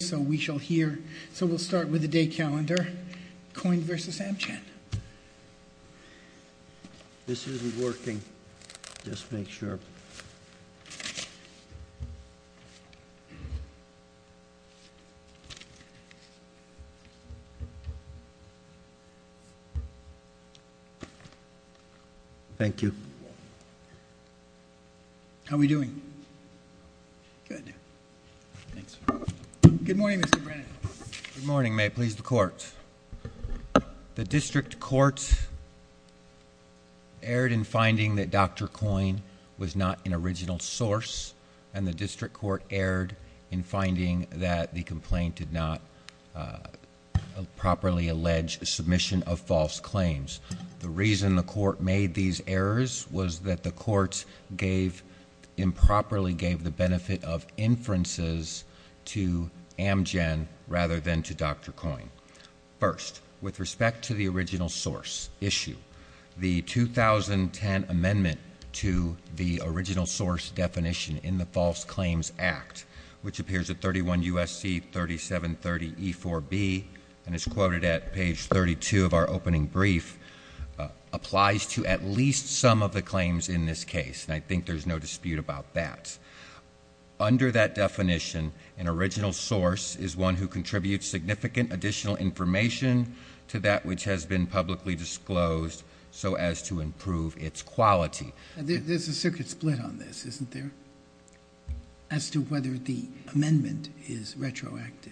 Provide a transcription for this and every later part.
So we shall here. So we'll start with the day calendar coin versus Amchan. This isn't working. Just make sure. Thank you. How we doing? Good. Thanks. Good morning, Mr. Brennan. Good morning. May it please the court. The district court. Erred in finding that dr. Coin was not an original source and the district court erred in finding that the complaint did not properly allege a submission of false claims. The reason the court made these errors was that the courts gave improperly gave the benefit of inferences to Amgen rather than to dr. Coin first with respect to the original source issue the 2010 amendment to the original source definition in the False Claims Act, which appears at 31 USC 3730 e4b and is quoted at page 32 of our opening brief applies to at least some of the claims in this case, and I think there's no dispute about that. Under that definition, an original source is one who contributes significant additional information to that, which has been publicly disclosed. So as to improve its quality, there's a circuit split on this, isn't there? As to whether the amendment is retroactive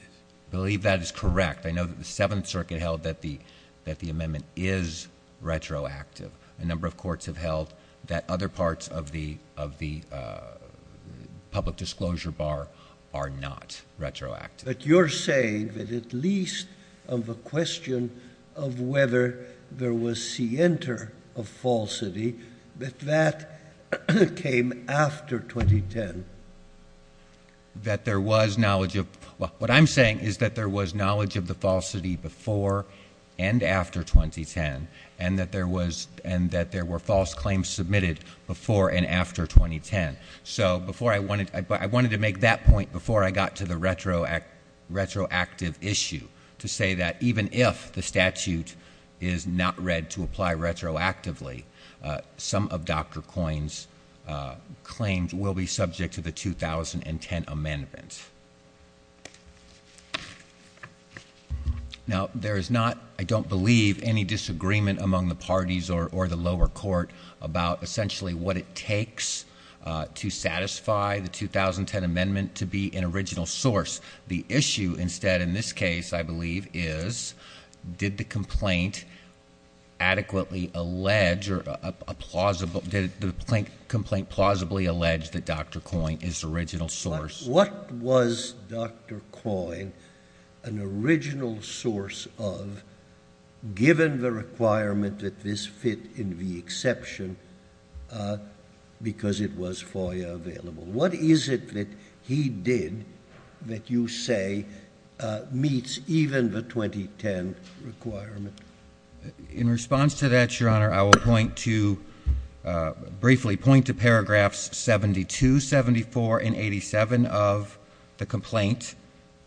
believe that is correct. I know that the Seventh Circuit held that the that the amendment is retroactive. A number of courts have held that other parts of the of the public disclosure bar are not retroactive. But you're saying that at least of a question of whether there was see enter a falsity that that came after 2010. That there was knowledge of what I'm saying is that there was knowledge of the falsity before and after 2010 and that there was and that there were false claims submitted before and after 2010. So before I wanted to make that point before I got to the retroactive issue to say that even if the statute is not read to apply retroactively, some of Dr. Coyne's claims will be subject to the 2010 amendment. Now there is not, I don't believe, any disagreement among the parties or the lower court about essentially what it takes to satisfy the 2010 amendment to be an original source. The issue instead in this case, I believe, is did the complaint adequately allege, or did the complaint plausibly allege that Dr. Coyne is original source? What was Dr. Coyne an original source of given the requirement that this fit in the exception because it was FOIA available? What is it that he did that you say meets even the 2010 requirement? In response to that, Your Honor, I will point to, briefly, point to paragraphs 72, 74, and 87 of the complaint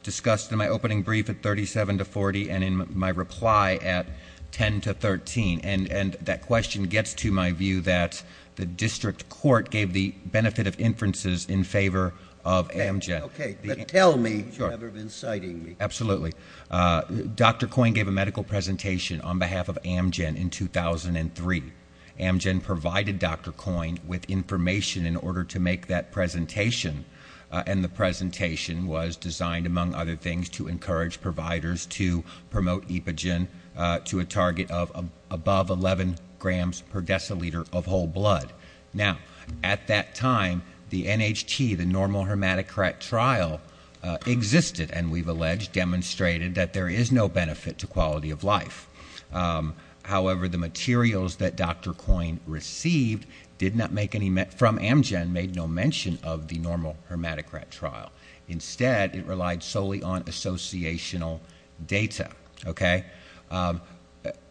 discussed in my opening brief at 37 to 40 and in my reply at 10 to 13. And that question gets to my view that the district court gave the benefit of inferences in favor of Amgen. Okay, but tell me, you haven't been citing me. Absolutely, Dr. Coyne gave a medical presentation on behalf of Amgen in 2003. Amgen provided Dr. Coyne with information in order to make that presentation. And the presentation was designed, among other things, to encourage providers to promote epigen to a target of above 11 grams per deciliter of whole blood. Now, at that time, the NHT, the normal hermetic rat trial, existed. And we've alleged, demonstrated that there is no benefit to quality of life. However, the materials that Dr. Coyne received did not make any, from Amgen, made no mention of the normal hermetic rat trial. Instead, it relied solely on associational data, okay?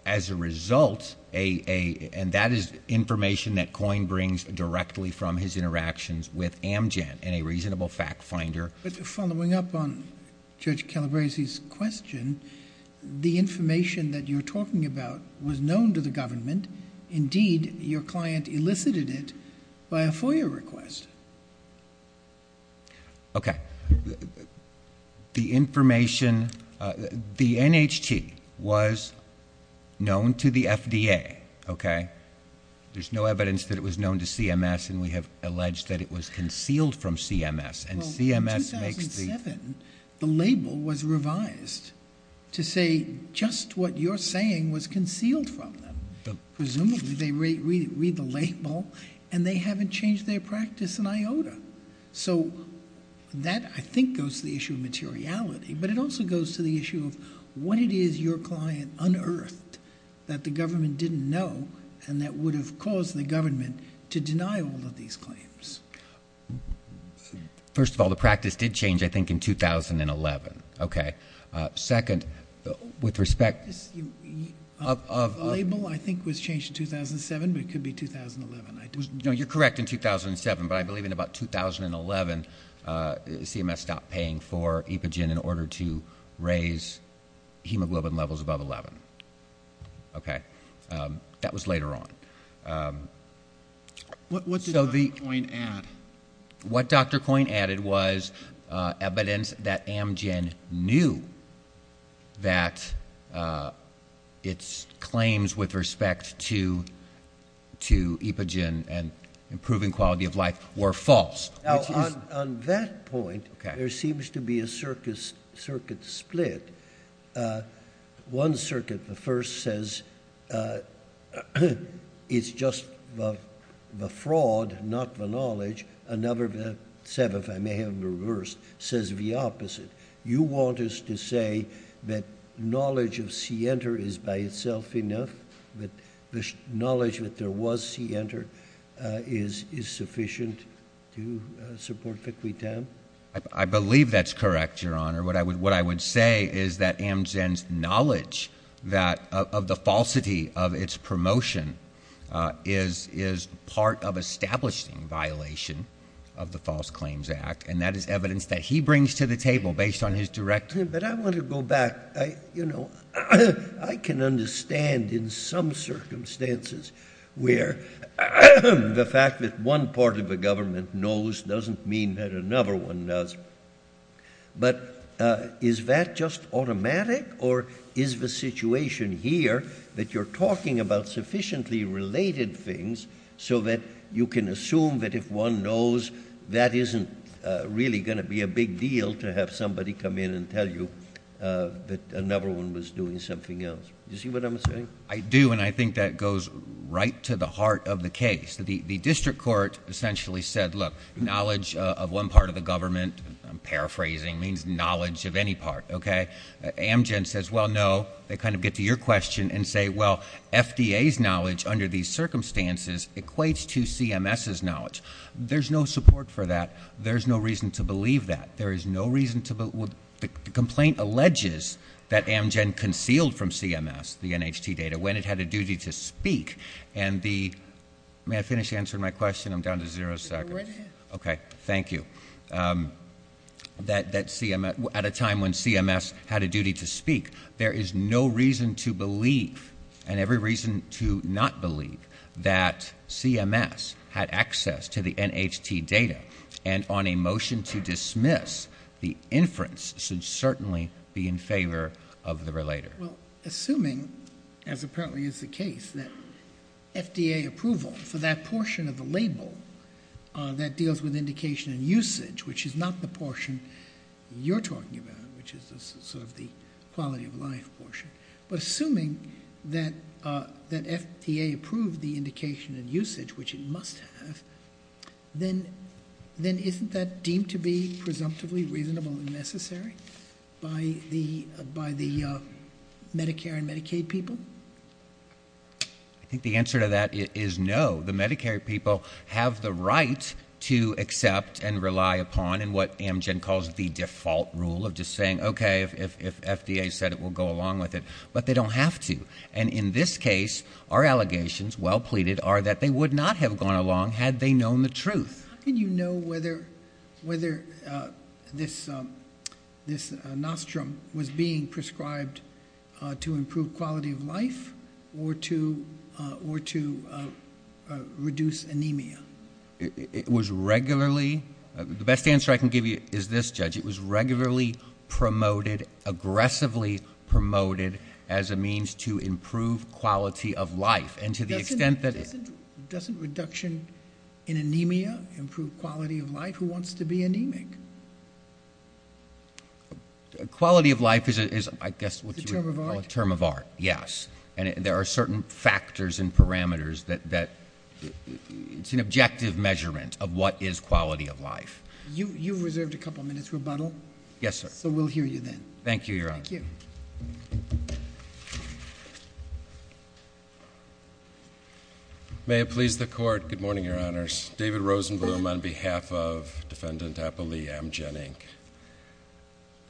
As a result, and that is information that Coyne brings directly from his interactions with Amgen and a reasonable fact finder. But following up on Judge Calabresi's question, the information that you're talking about was known to the government. Indeed, your client elicited it by a FOIA request. Okay. The information, the NHT was known to the FDA, okay? There's no evidence that it was known to CMS, and we have alleged that it was concealed from CMS. And CMS makes the- Well, in 2007, the label was revised to say just what you're saying was concealed from them. Presumably, they read the label, and they haven't changed their practice in IOTA. So that, I think, goes to the issue of materiality. But it also goes to the issue of what it is your client unearthed that the government didn't know, and that would have caused the government to deny all of these claims. First of all, the practice did change, I think, in 2011, okay? Second, with respect of- The label, I think, was changed in 2007, but it could be 2011. No, you're correct in 2007, but I believe in about 2011, CMS stopped paying for epigen in order to raise hemoglobin levels above 11. Okay. That was later on. What did Dr. Coyne add? What Dr. Coyne added was evidence that Amgen knew that its claims with respect to epigen and improving quality of life were false. Now, on that point, there seems to be a circuit split. One circuit, the first, says it's just the fraud, not the knowledge. Another, the seventh, I may have reversed, says the opposite. You want us to say that knowledge of C-enter is by itself enough, that the knowledge that there was C-enter is sufficient to support Vicuitan? I believe that's correct, Your Honor. What I would say is that Amgen's knowledge of the falsity of its promotion is part of establishing violation of the False Claims Act, and that is evidence that he brings to the table based on his direct- But I want to go back. I can understand in some circumstances where the fact that one part of the government knows doesn't mean that another one does. But is that just automatic, or is the situation here that you're talking about sufficiently related things so that you can assume that if one knows, that isn't really going to be a big deal to have somebody come in and tell you that another one was doing something else? Do you see what I'm saying? I do, and I think that goes right to the heart of the case. The district court essentially said, look, knowledge of one part of the government, I'm paraphrasing, means knowledge of any part, okay? Amgen says, well, no. They kind of get to your question and say, well, FDA's knowledge under these circumstances equates to CMS's knowledge. There's no support for that. There's no reason to believe that. There is no reason to, the complaint alleges that Amgen concealed from CMS the NHT data when it had a duty to speak. And the, may I finish answering my question? I'm down to zero seconds. Okay, thank you. At a time when CMS had a duty to speak, there is no reason to believe and every reason to not believe that CMS had access to the NHT data. And on a motion to dismiss, the inference should certainly be in favor of the relator. Well, assuming, as apparently is the case, that FDA approval for that portion of the label that deals with indication and usage, which is not the portion you're talking about, which is sort of the quality of life portion. But assuming that FDA approved the indication and usage, which it must have, then isn't that deemed to be presumptively reasonable and necessary? By the Medicare and Medicaid people? I think the answer to that is no. The Medicare people have the right to accept and rely upon and what Amgen calls the default rule of just saying, okay, if FDA said it, we'll go along with it. But they don't have to. And in this case, our allegations, well pleaded, are that they would not have gone along had they known the truth. How can you know whether this nostrum was being prescribed to improve quality of life or to reduce anemia? It was regularly, the best answer I can give you is this, Judge. It was regularly promoted, aggressively promoted as a means to improve quality of life. And to the extent that- Doesn't reduction in anemia improve quality of life? Who wants to be anemic? Quality of life is, I guess, what you would- It's a term of art. Term of art, yes. And there are certain factors and parameters that, it's an objective measurement of what is quality of life. You've reserved a couple minutes rebuttal. Yes, sir. So we'll hear you then. Thank you, Your Honor. Thank you. May it please the court. Good morning, Your Honors. David Rosenblum on behalf of Defendant Appali, Amgen, Inc.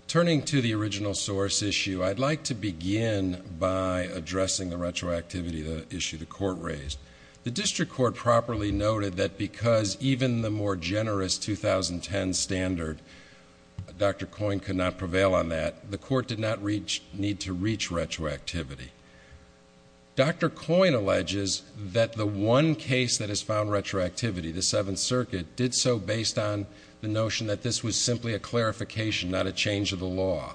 Turning to the original source issue, I'd like to begin by addressing the retroactivity issue the court raised. The district court properly noted that because even the more generous 2010 standard, Dr. Coyne could not prevail on that, the court did not need to reach retroactivity. Dr. Coyne alleges that the one case that has found retroactivity, the Seventh Circuit, did so based on the notion that this was simply a clarification, not a change of the law.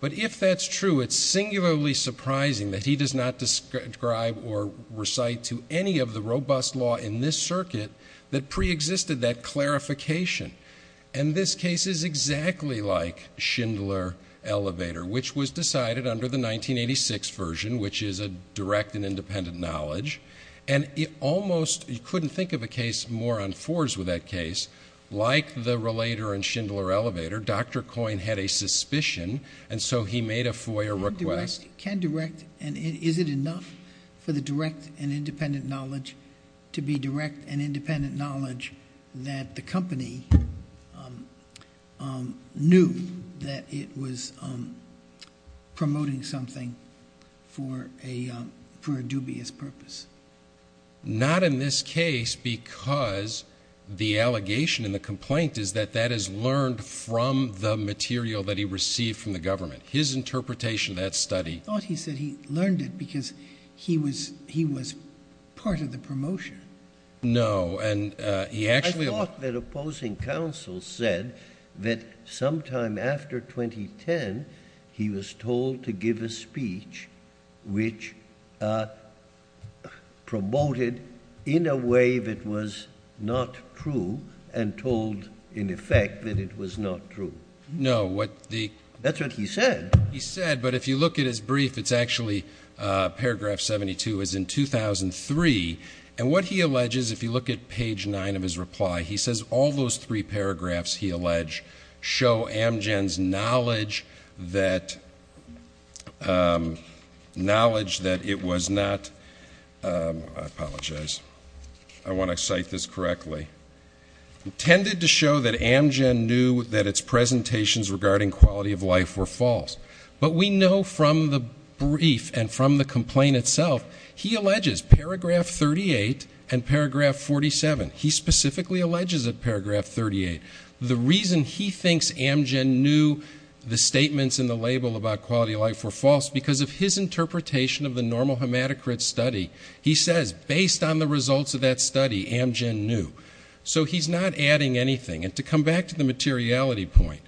But if that's true, it's singularly surprising that he does not describe or recite to any of the robust law in this circuit that preexisted that clarification. And this case is exactly like Schindler Elevator, which was decided under the 1986 version, which is a direct and independent knowledge. And it almost, you couldn't think of a case more on fours with that case, like the Relator and Schindler Elevator, Dr. Coyne had a suspicion, and so he made a FOIA request. Can direct, and is it enough for the direct and independent knowledge to be direct and independent, that he knew that it was promoting something for a, for a dubious purpose? Not in this case, because the allegation and the complaint is that that is learned from the material that he received from the government. His interpretation of that study- I thought he said he learned it because he was, he was part of the promotion. No, and he actually- I thought that opposing counsel said that sometime after 2010, he was told to give a speech which promoted in a way that was not true, and told, in effect, that it was not true. No, what the- That's what he said. He said, but if you look at his brief, it's actually paragraph 72, it's in 2003. And what he alleges, if you look at page nine of his reply, he says all those three paragraphs, he allege, show Amgen's knowledge that, knowledge that it was not, I apologize, I want to cite this correctly. Intended to show that Amgen knew that its presentations regarding quality of life were false. But we know from the brief and from the complaint itself, he alleges paragraph 38 and paragraph 47, he specifically alleges at paragraph 38. The reason he thinks Amgen knew the statements in the label about quality of life were false, because of his interpretation of the normal hematocrit study. He says, based on the results of that study, Amgen knew. So he's not adding anything. And to come back to the materiality point,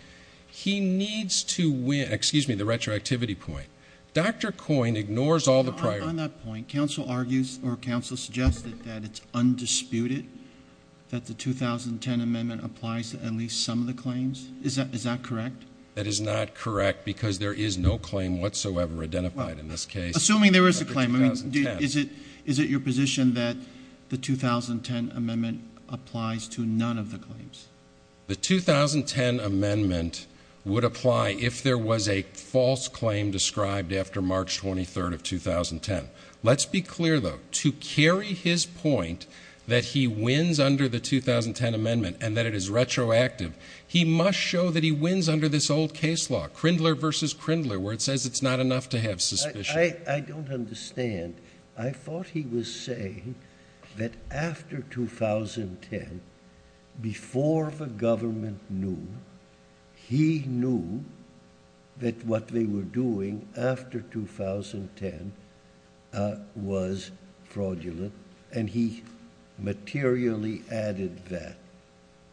he needs to win, excuse me, the retroactivity point. Dr. Coyne ignores all the prior- On that point, counsel argues or counsel suggests that it's undisputed that the 2010 amendment applies to at least some of the claims, is that correct? That is not correct, because there is no claim whatsoever identified in this case. Assuming there is a claim, I mean, is it your position that the 2010 amendment applies to none of the claims? The 2010 amendment would apply if there was a false claim described after March 23rd of 2010. Let's be clear though, to carry his point that he wins under the 2010 amendment and that it is retroactive, he must show that he wins under this old case law, Crindler versus Crindler, where it says it's not enough to have suspicion. I don't understand. I thought he was saying that after 2010, before the government knew, he knew that what they were doing after 2010 was fraudulent, and he materially added that.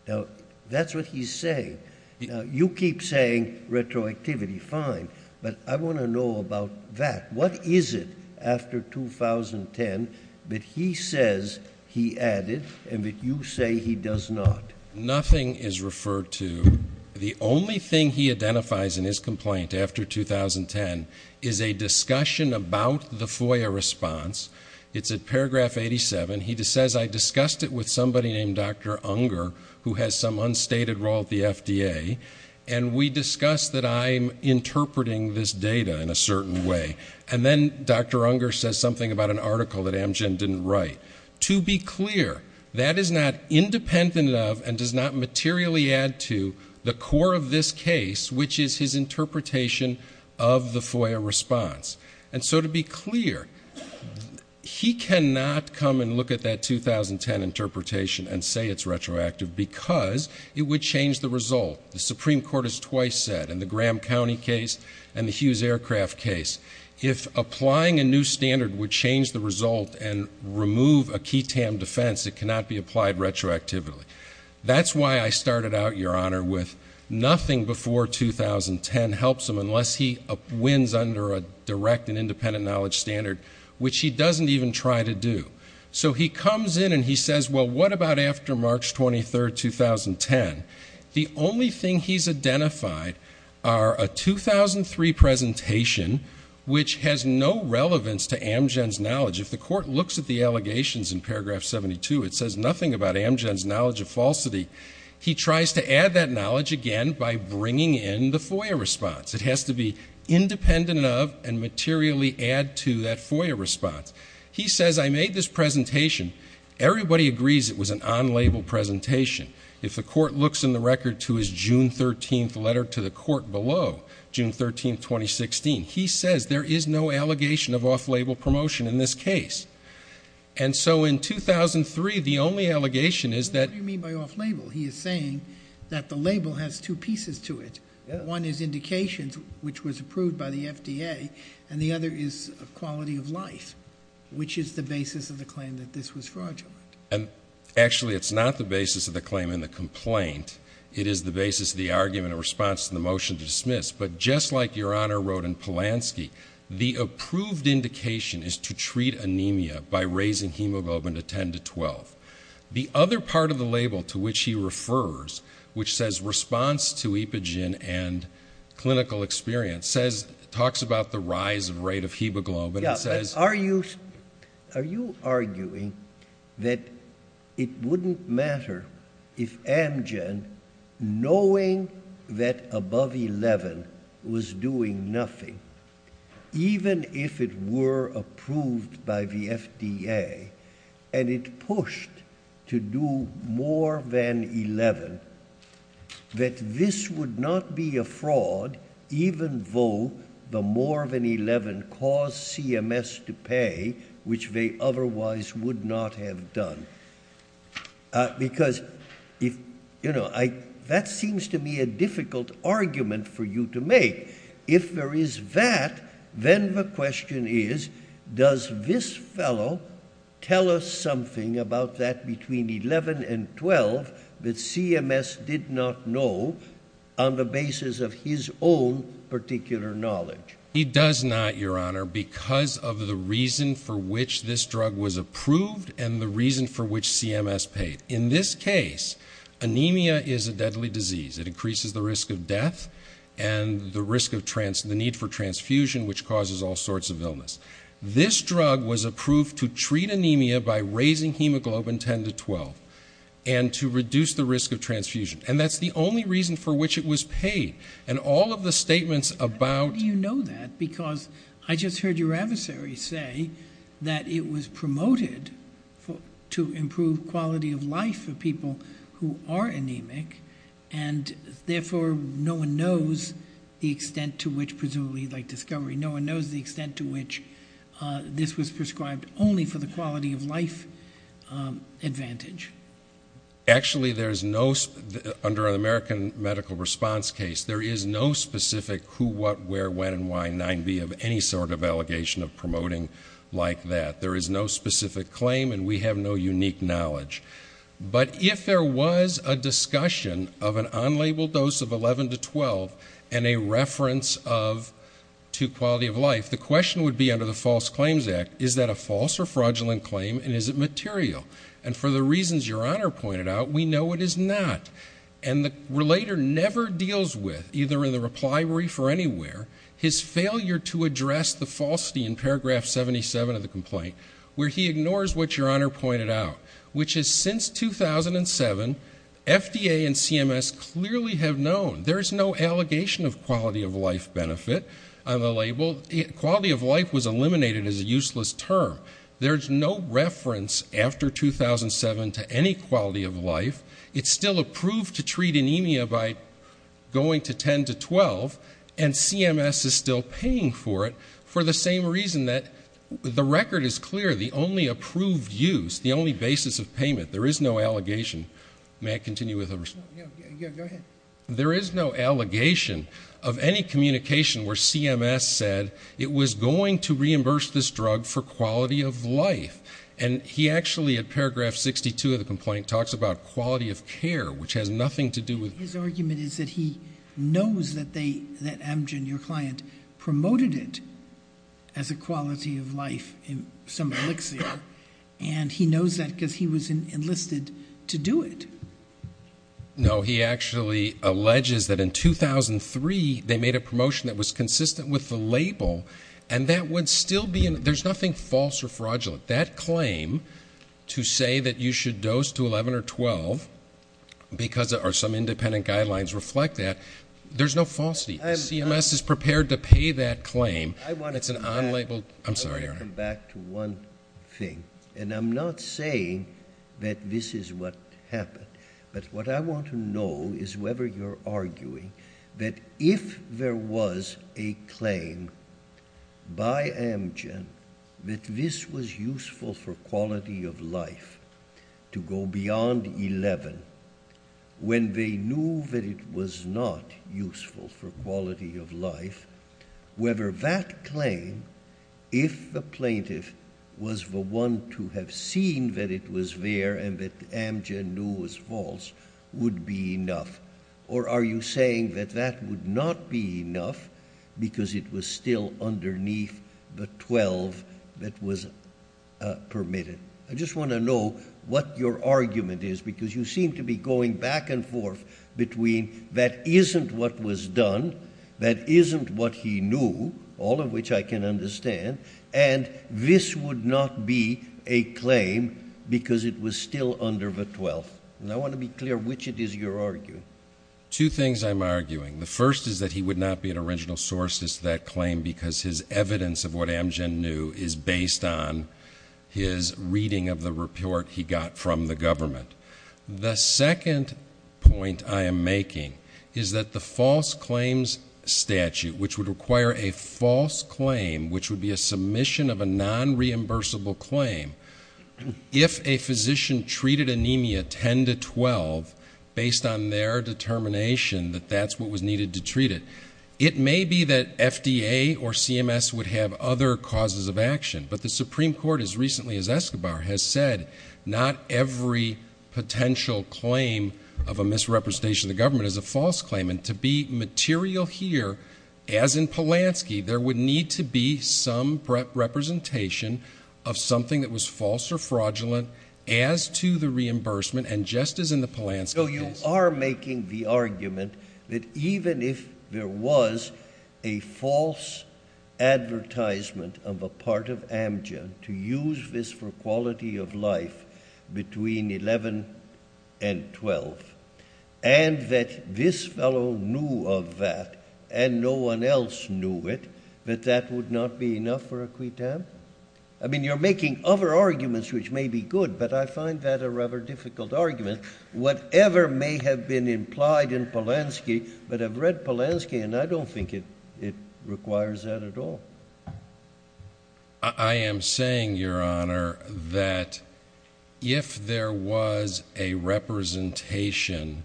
Now, that's what he's saying. Now, you keep saying retroactivity, fine, but I want to know about that. What is it after 2010 that he says he added and that you say he does not? Nothing is referred to. The only thing he identifies in his complaint after 2010 is a discussion about the FOIA response. It's at paragraph 87. And he says, I discussed it with somebody named Dr. Unger, who has some unstated role at the FDA. And we discussed that I'm interpreting this data in a certain way. And then Dr. Unger says something about an article that Amgen didn't write. To be clear, that is not independent of and does not materially add to the core of this case, which is his interpretation of the FOIA response. And so to be clear, he cannot come and look at that 2010 interpretation and say it's retroactive because it would change the result. The Supreme Court has twice said, in the Graham County case and the Hughes Aircraft case, if applying a new standard would change the result and remove a key TAM defense, it cannot be applied retroactively. That's why I started out, Your Honor, with nothing before 2010 helps him unless he wins under a direct and independent knowledge standard, which he doesn't even try to do. So he comes in and he says, well, what about after March 23rd, 2010? The only thing he's identified are a 2003 presentation, which has no relevance to Amgen's knowledge. If the court looks at the allegations in paragraph 72, it says nothing about Amgen's knowledge of falsity. He tries to add that knowledge again by bringing in the FOIA response. It has to be independent of and materially add to that FOIA response. He says, I made this presentation. Everybody agrees it was an unlabeled presentation. If the court looks in the record to his June 13th letter to the court below, June 13th, 2016, he says there is no allegation of off-label promotion in this case. And so in 2003, the only allegation is that- What do you mean by off-label? He is saying that the label has two pieces to it. One is indications, which was approved by the FDA, and the other is quality of life, which is the basis of the claim that this was fraudulent. And actually, it's not the basis of the claim in the complaint. It is the basis of the argument in response to the motion to dismiss. But just like Your Honor wrote in Polanski, the approved indication is to treat anemia by raising hemoglobin to 10 to 12. The other part of the label to which he refers, which says response to epigen and clinical experience, talks about the rise of rate of hemoglobin and says- Are you arguing that it wouldn't matter if Amgen, knowing that above 11, was doing nothing, even if it were approved by the FDA, and it pushed to do more than 11, that this would not be a fraud, even though the more than 11 caused CMS to pay, which they otherwise would not have done? Because that seems to me a difficult argument for you to make. If there is that, then the question is, does this fellow tell us something about that between 11 and 12 that CMS did not know on the basis of his own particular knowledge? He does not, Your Honor, because of the reason for which this drug was approved and the reason for which CMS paid. In this case, anemia is a deadly disease. It increases the risk of death and the need for transfusion, which causes all sorts of illness. This drug was approved to treat anemia by raising hemoglobin 10 to 12, and to reduce the risk of transfusion. And that's the only reason for which it was paid. And all of the statements about- But how do you know that? Because I just heard your adversary say that it was promoted to improve quality of life for people who are anemic, and therefore, no one knows the extent to which, presumably like discovery, no one knows the extent to which this was prescribed only for the quality of life advantage. Actually, there's no, under an American medical response case, there is no specific who, what, where, when, and why 9B of any sort of allegation of promoting like that. There is no specific claim, and we have no unique knowledge. But if there was a discussion of an unlabeled dose of 11 to 12 and a reference of to quality of life, the question would be under the False Claims Act, is that a false or fraudulent claim, and is it material? And for the reasons your honor pointed out, we know it is not. And the relator never deals with, either in the reply brief or anywhere, his failure to address the falsity in paragraph 77 of the complaint, where he ignores what your honor pointed out. Which is since 2007, FDA and CMS clearly have known. There's no allegation of quality of life benefit on the label. Quality of life was eliminated as a useless term. There's no reference after 2007 to any quality of life. It's still approved to treat anemia by going to 10 to 12, and CMS is still paying for it for the same reason that the record is clear. The only approved use, the only basis of payment, there is no allegation. May I continue with the response? Go ahead. There is no allegation of any communication where CMS said it was going to reimburse this drug for quality of life. And he actually, at paragraph 62 of the complaint, talks about quality of care, which has nothing to do with. His argument is that he knows that Amgen, your client, promoted it as a quality of life in some elixir. And he knows that because he was enlisted to do it. No, he actually alleges that in 2003, they made a promotion that was consistent with the label. And that would still be, there's nothing false or fraudulent. But that claim to say that you should dose to 11 or 12, because some independent guidelines reflect that, there's no falsity. CMS is prepared to pay that claim. It's an unlabeled, I'm sorry, Your Honor. I want to come back to one thing, and I'm not saying that this is what happened. But what I want to know is whether you're arguing that if there was a claim by Amgen that this was useful for quality of life to go beyond 11. When they knew that it was not useful for quality of life, whether that claim, if the plaintiff was the one to have seen that it was there and that Amgen knew was false, would be enough. Or are you saying that that would not be enough because it was still underneath the 12 that was permitted? I just want to know what your argument is, because you seem to be going back and forth between that isn't what was done, that isn't what he knew, all of which I can understand, and this would not be a claim because it was still under the 12th. And I want to be clear which it is you're arguing. Two things I'm arguing. The first is that he would not be an original source to that claim because his evidence of what Amgen knew is based on his reading of the report he got from the government. The second point I am making is that the false claims statute, which would require a false claim, which would be a submission of a non-reimbursable claim, if a physician treated anemia 10 to 12 based on their determination that that's what was needed to treat it. It may be that FDA or CMS would have other causes of action, but the Supreme Court has recently, as Escobar has said, not every potential claim of a misrepresentation of the government is a false claim. And to be material here, as in Polanski, there would need to be some representation of something that was false or fraudulent as to the reimbursement and just as in the Polanski case. So you are making the argument that even if there was a false advertisement of a part of Amgen to use this for quality of life between 11 and 12. And that this fellow knew of that, and no one else knew it, that that would not be enough for a quitam? I mean, you're making other arguments which may be good, but I find that a rather difficult argument. Whatever may have been implied in Polanski, but I've read Polanski and I don't think it requires that at all. I am saying, Your Honor, that if there was a representation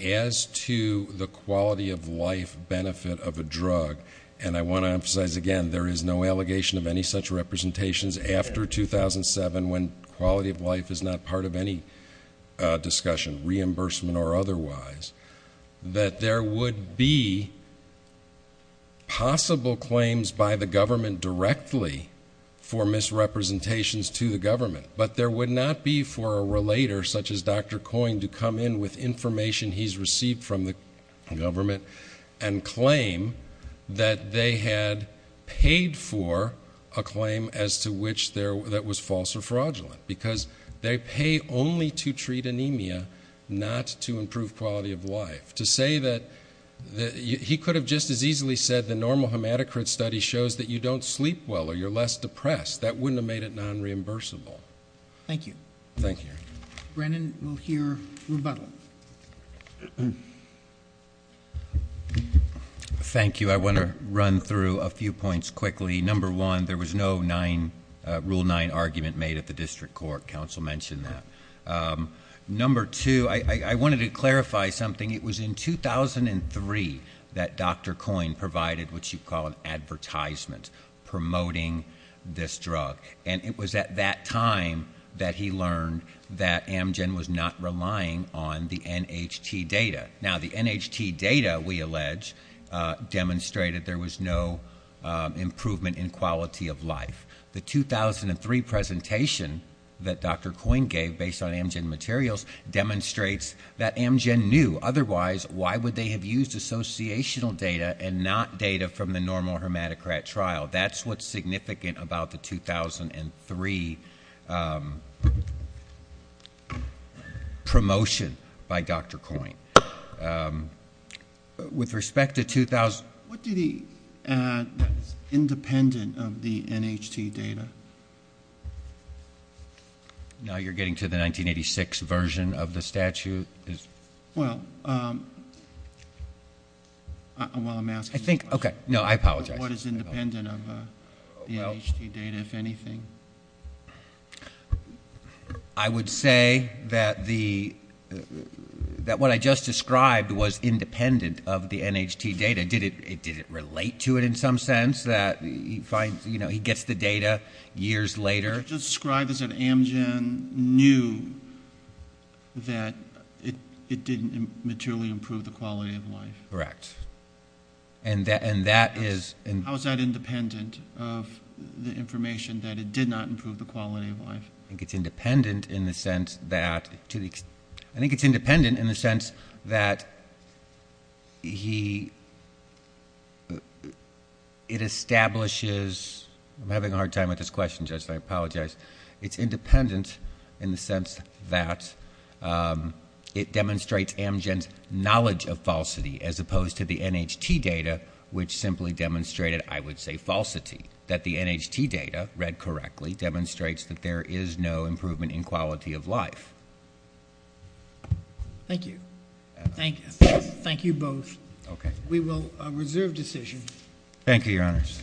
as to the quality of life benefit of a drug, and I want to emphasize again, there is no allegation of any such representations after 2007 when quality of life is not part of any discussion, reimbursement or otherwise. That there would be possible claims by the government directly for misrepresentations to the government, but there would not be for a relator such as Dr. Coyne to come in with information he's received from the government and claim that they had paid for a claim as to which that was false or fraudulent, because they pay only to treat the quality of life, to say that he could have just as easily said the normal hematocrit study shows that you don't sleep well or you're less depressed. That wouldn't have made it non-reimbursable. Thank you. Thank you. Brennan will hear rebuttal. Thank you. I want to run through a few points quickly. Number one, there was no rule nine argument made at the district court. Council mentioned that. Number two, I wanted to clarify something. It was in 2003 that Dr. Coyne provided what you call an advertisement promoting this drug. And it was at that time that he learned that Amgen was not relying on the NHT data. Now the NHT data, we allege, demonstrated there was no improvement in quality of life. The 2003 presentation that Dr. Coyne gave based on Amgen materials demonstrates that Amgen knew. Otherwise, why would they have used associational data and not data from the normal hematocrit trial? That's what's significant about the 2003 promotion by Dr. Coyne. With respect to 2000- What did he add that's independent of the NHT data? Now you're getting to the 1986 version of the statute. Well, while I'm asking this question- I think, okay, no, I apologize. What is independent of the NHT data, if anything? I would say that what I just described was independent of the NHT data. Did it relate to it in some sense that he gets the data years later? You just described as if Amgen knew that it didn't materially improve the quality of life. Correct. And that is- I think it's independent in the sense that it establishes- I'm having a hard time with this question, Judge, and I apologize. It's independent in the sense that it demonstrates Amgen's knowledge of falsity as opposed to the NHT data, which simply demonstrated, I would say, falsity. That the NHT data, read correctly, demonstrates that there is no improvement in quality of life. Thank you. Thank you. Thank you both. Okay. We will reserve decision. Thank you, your honors.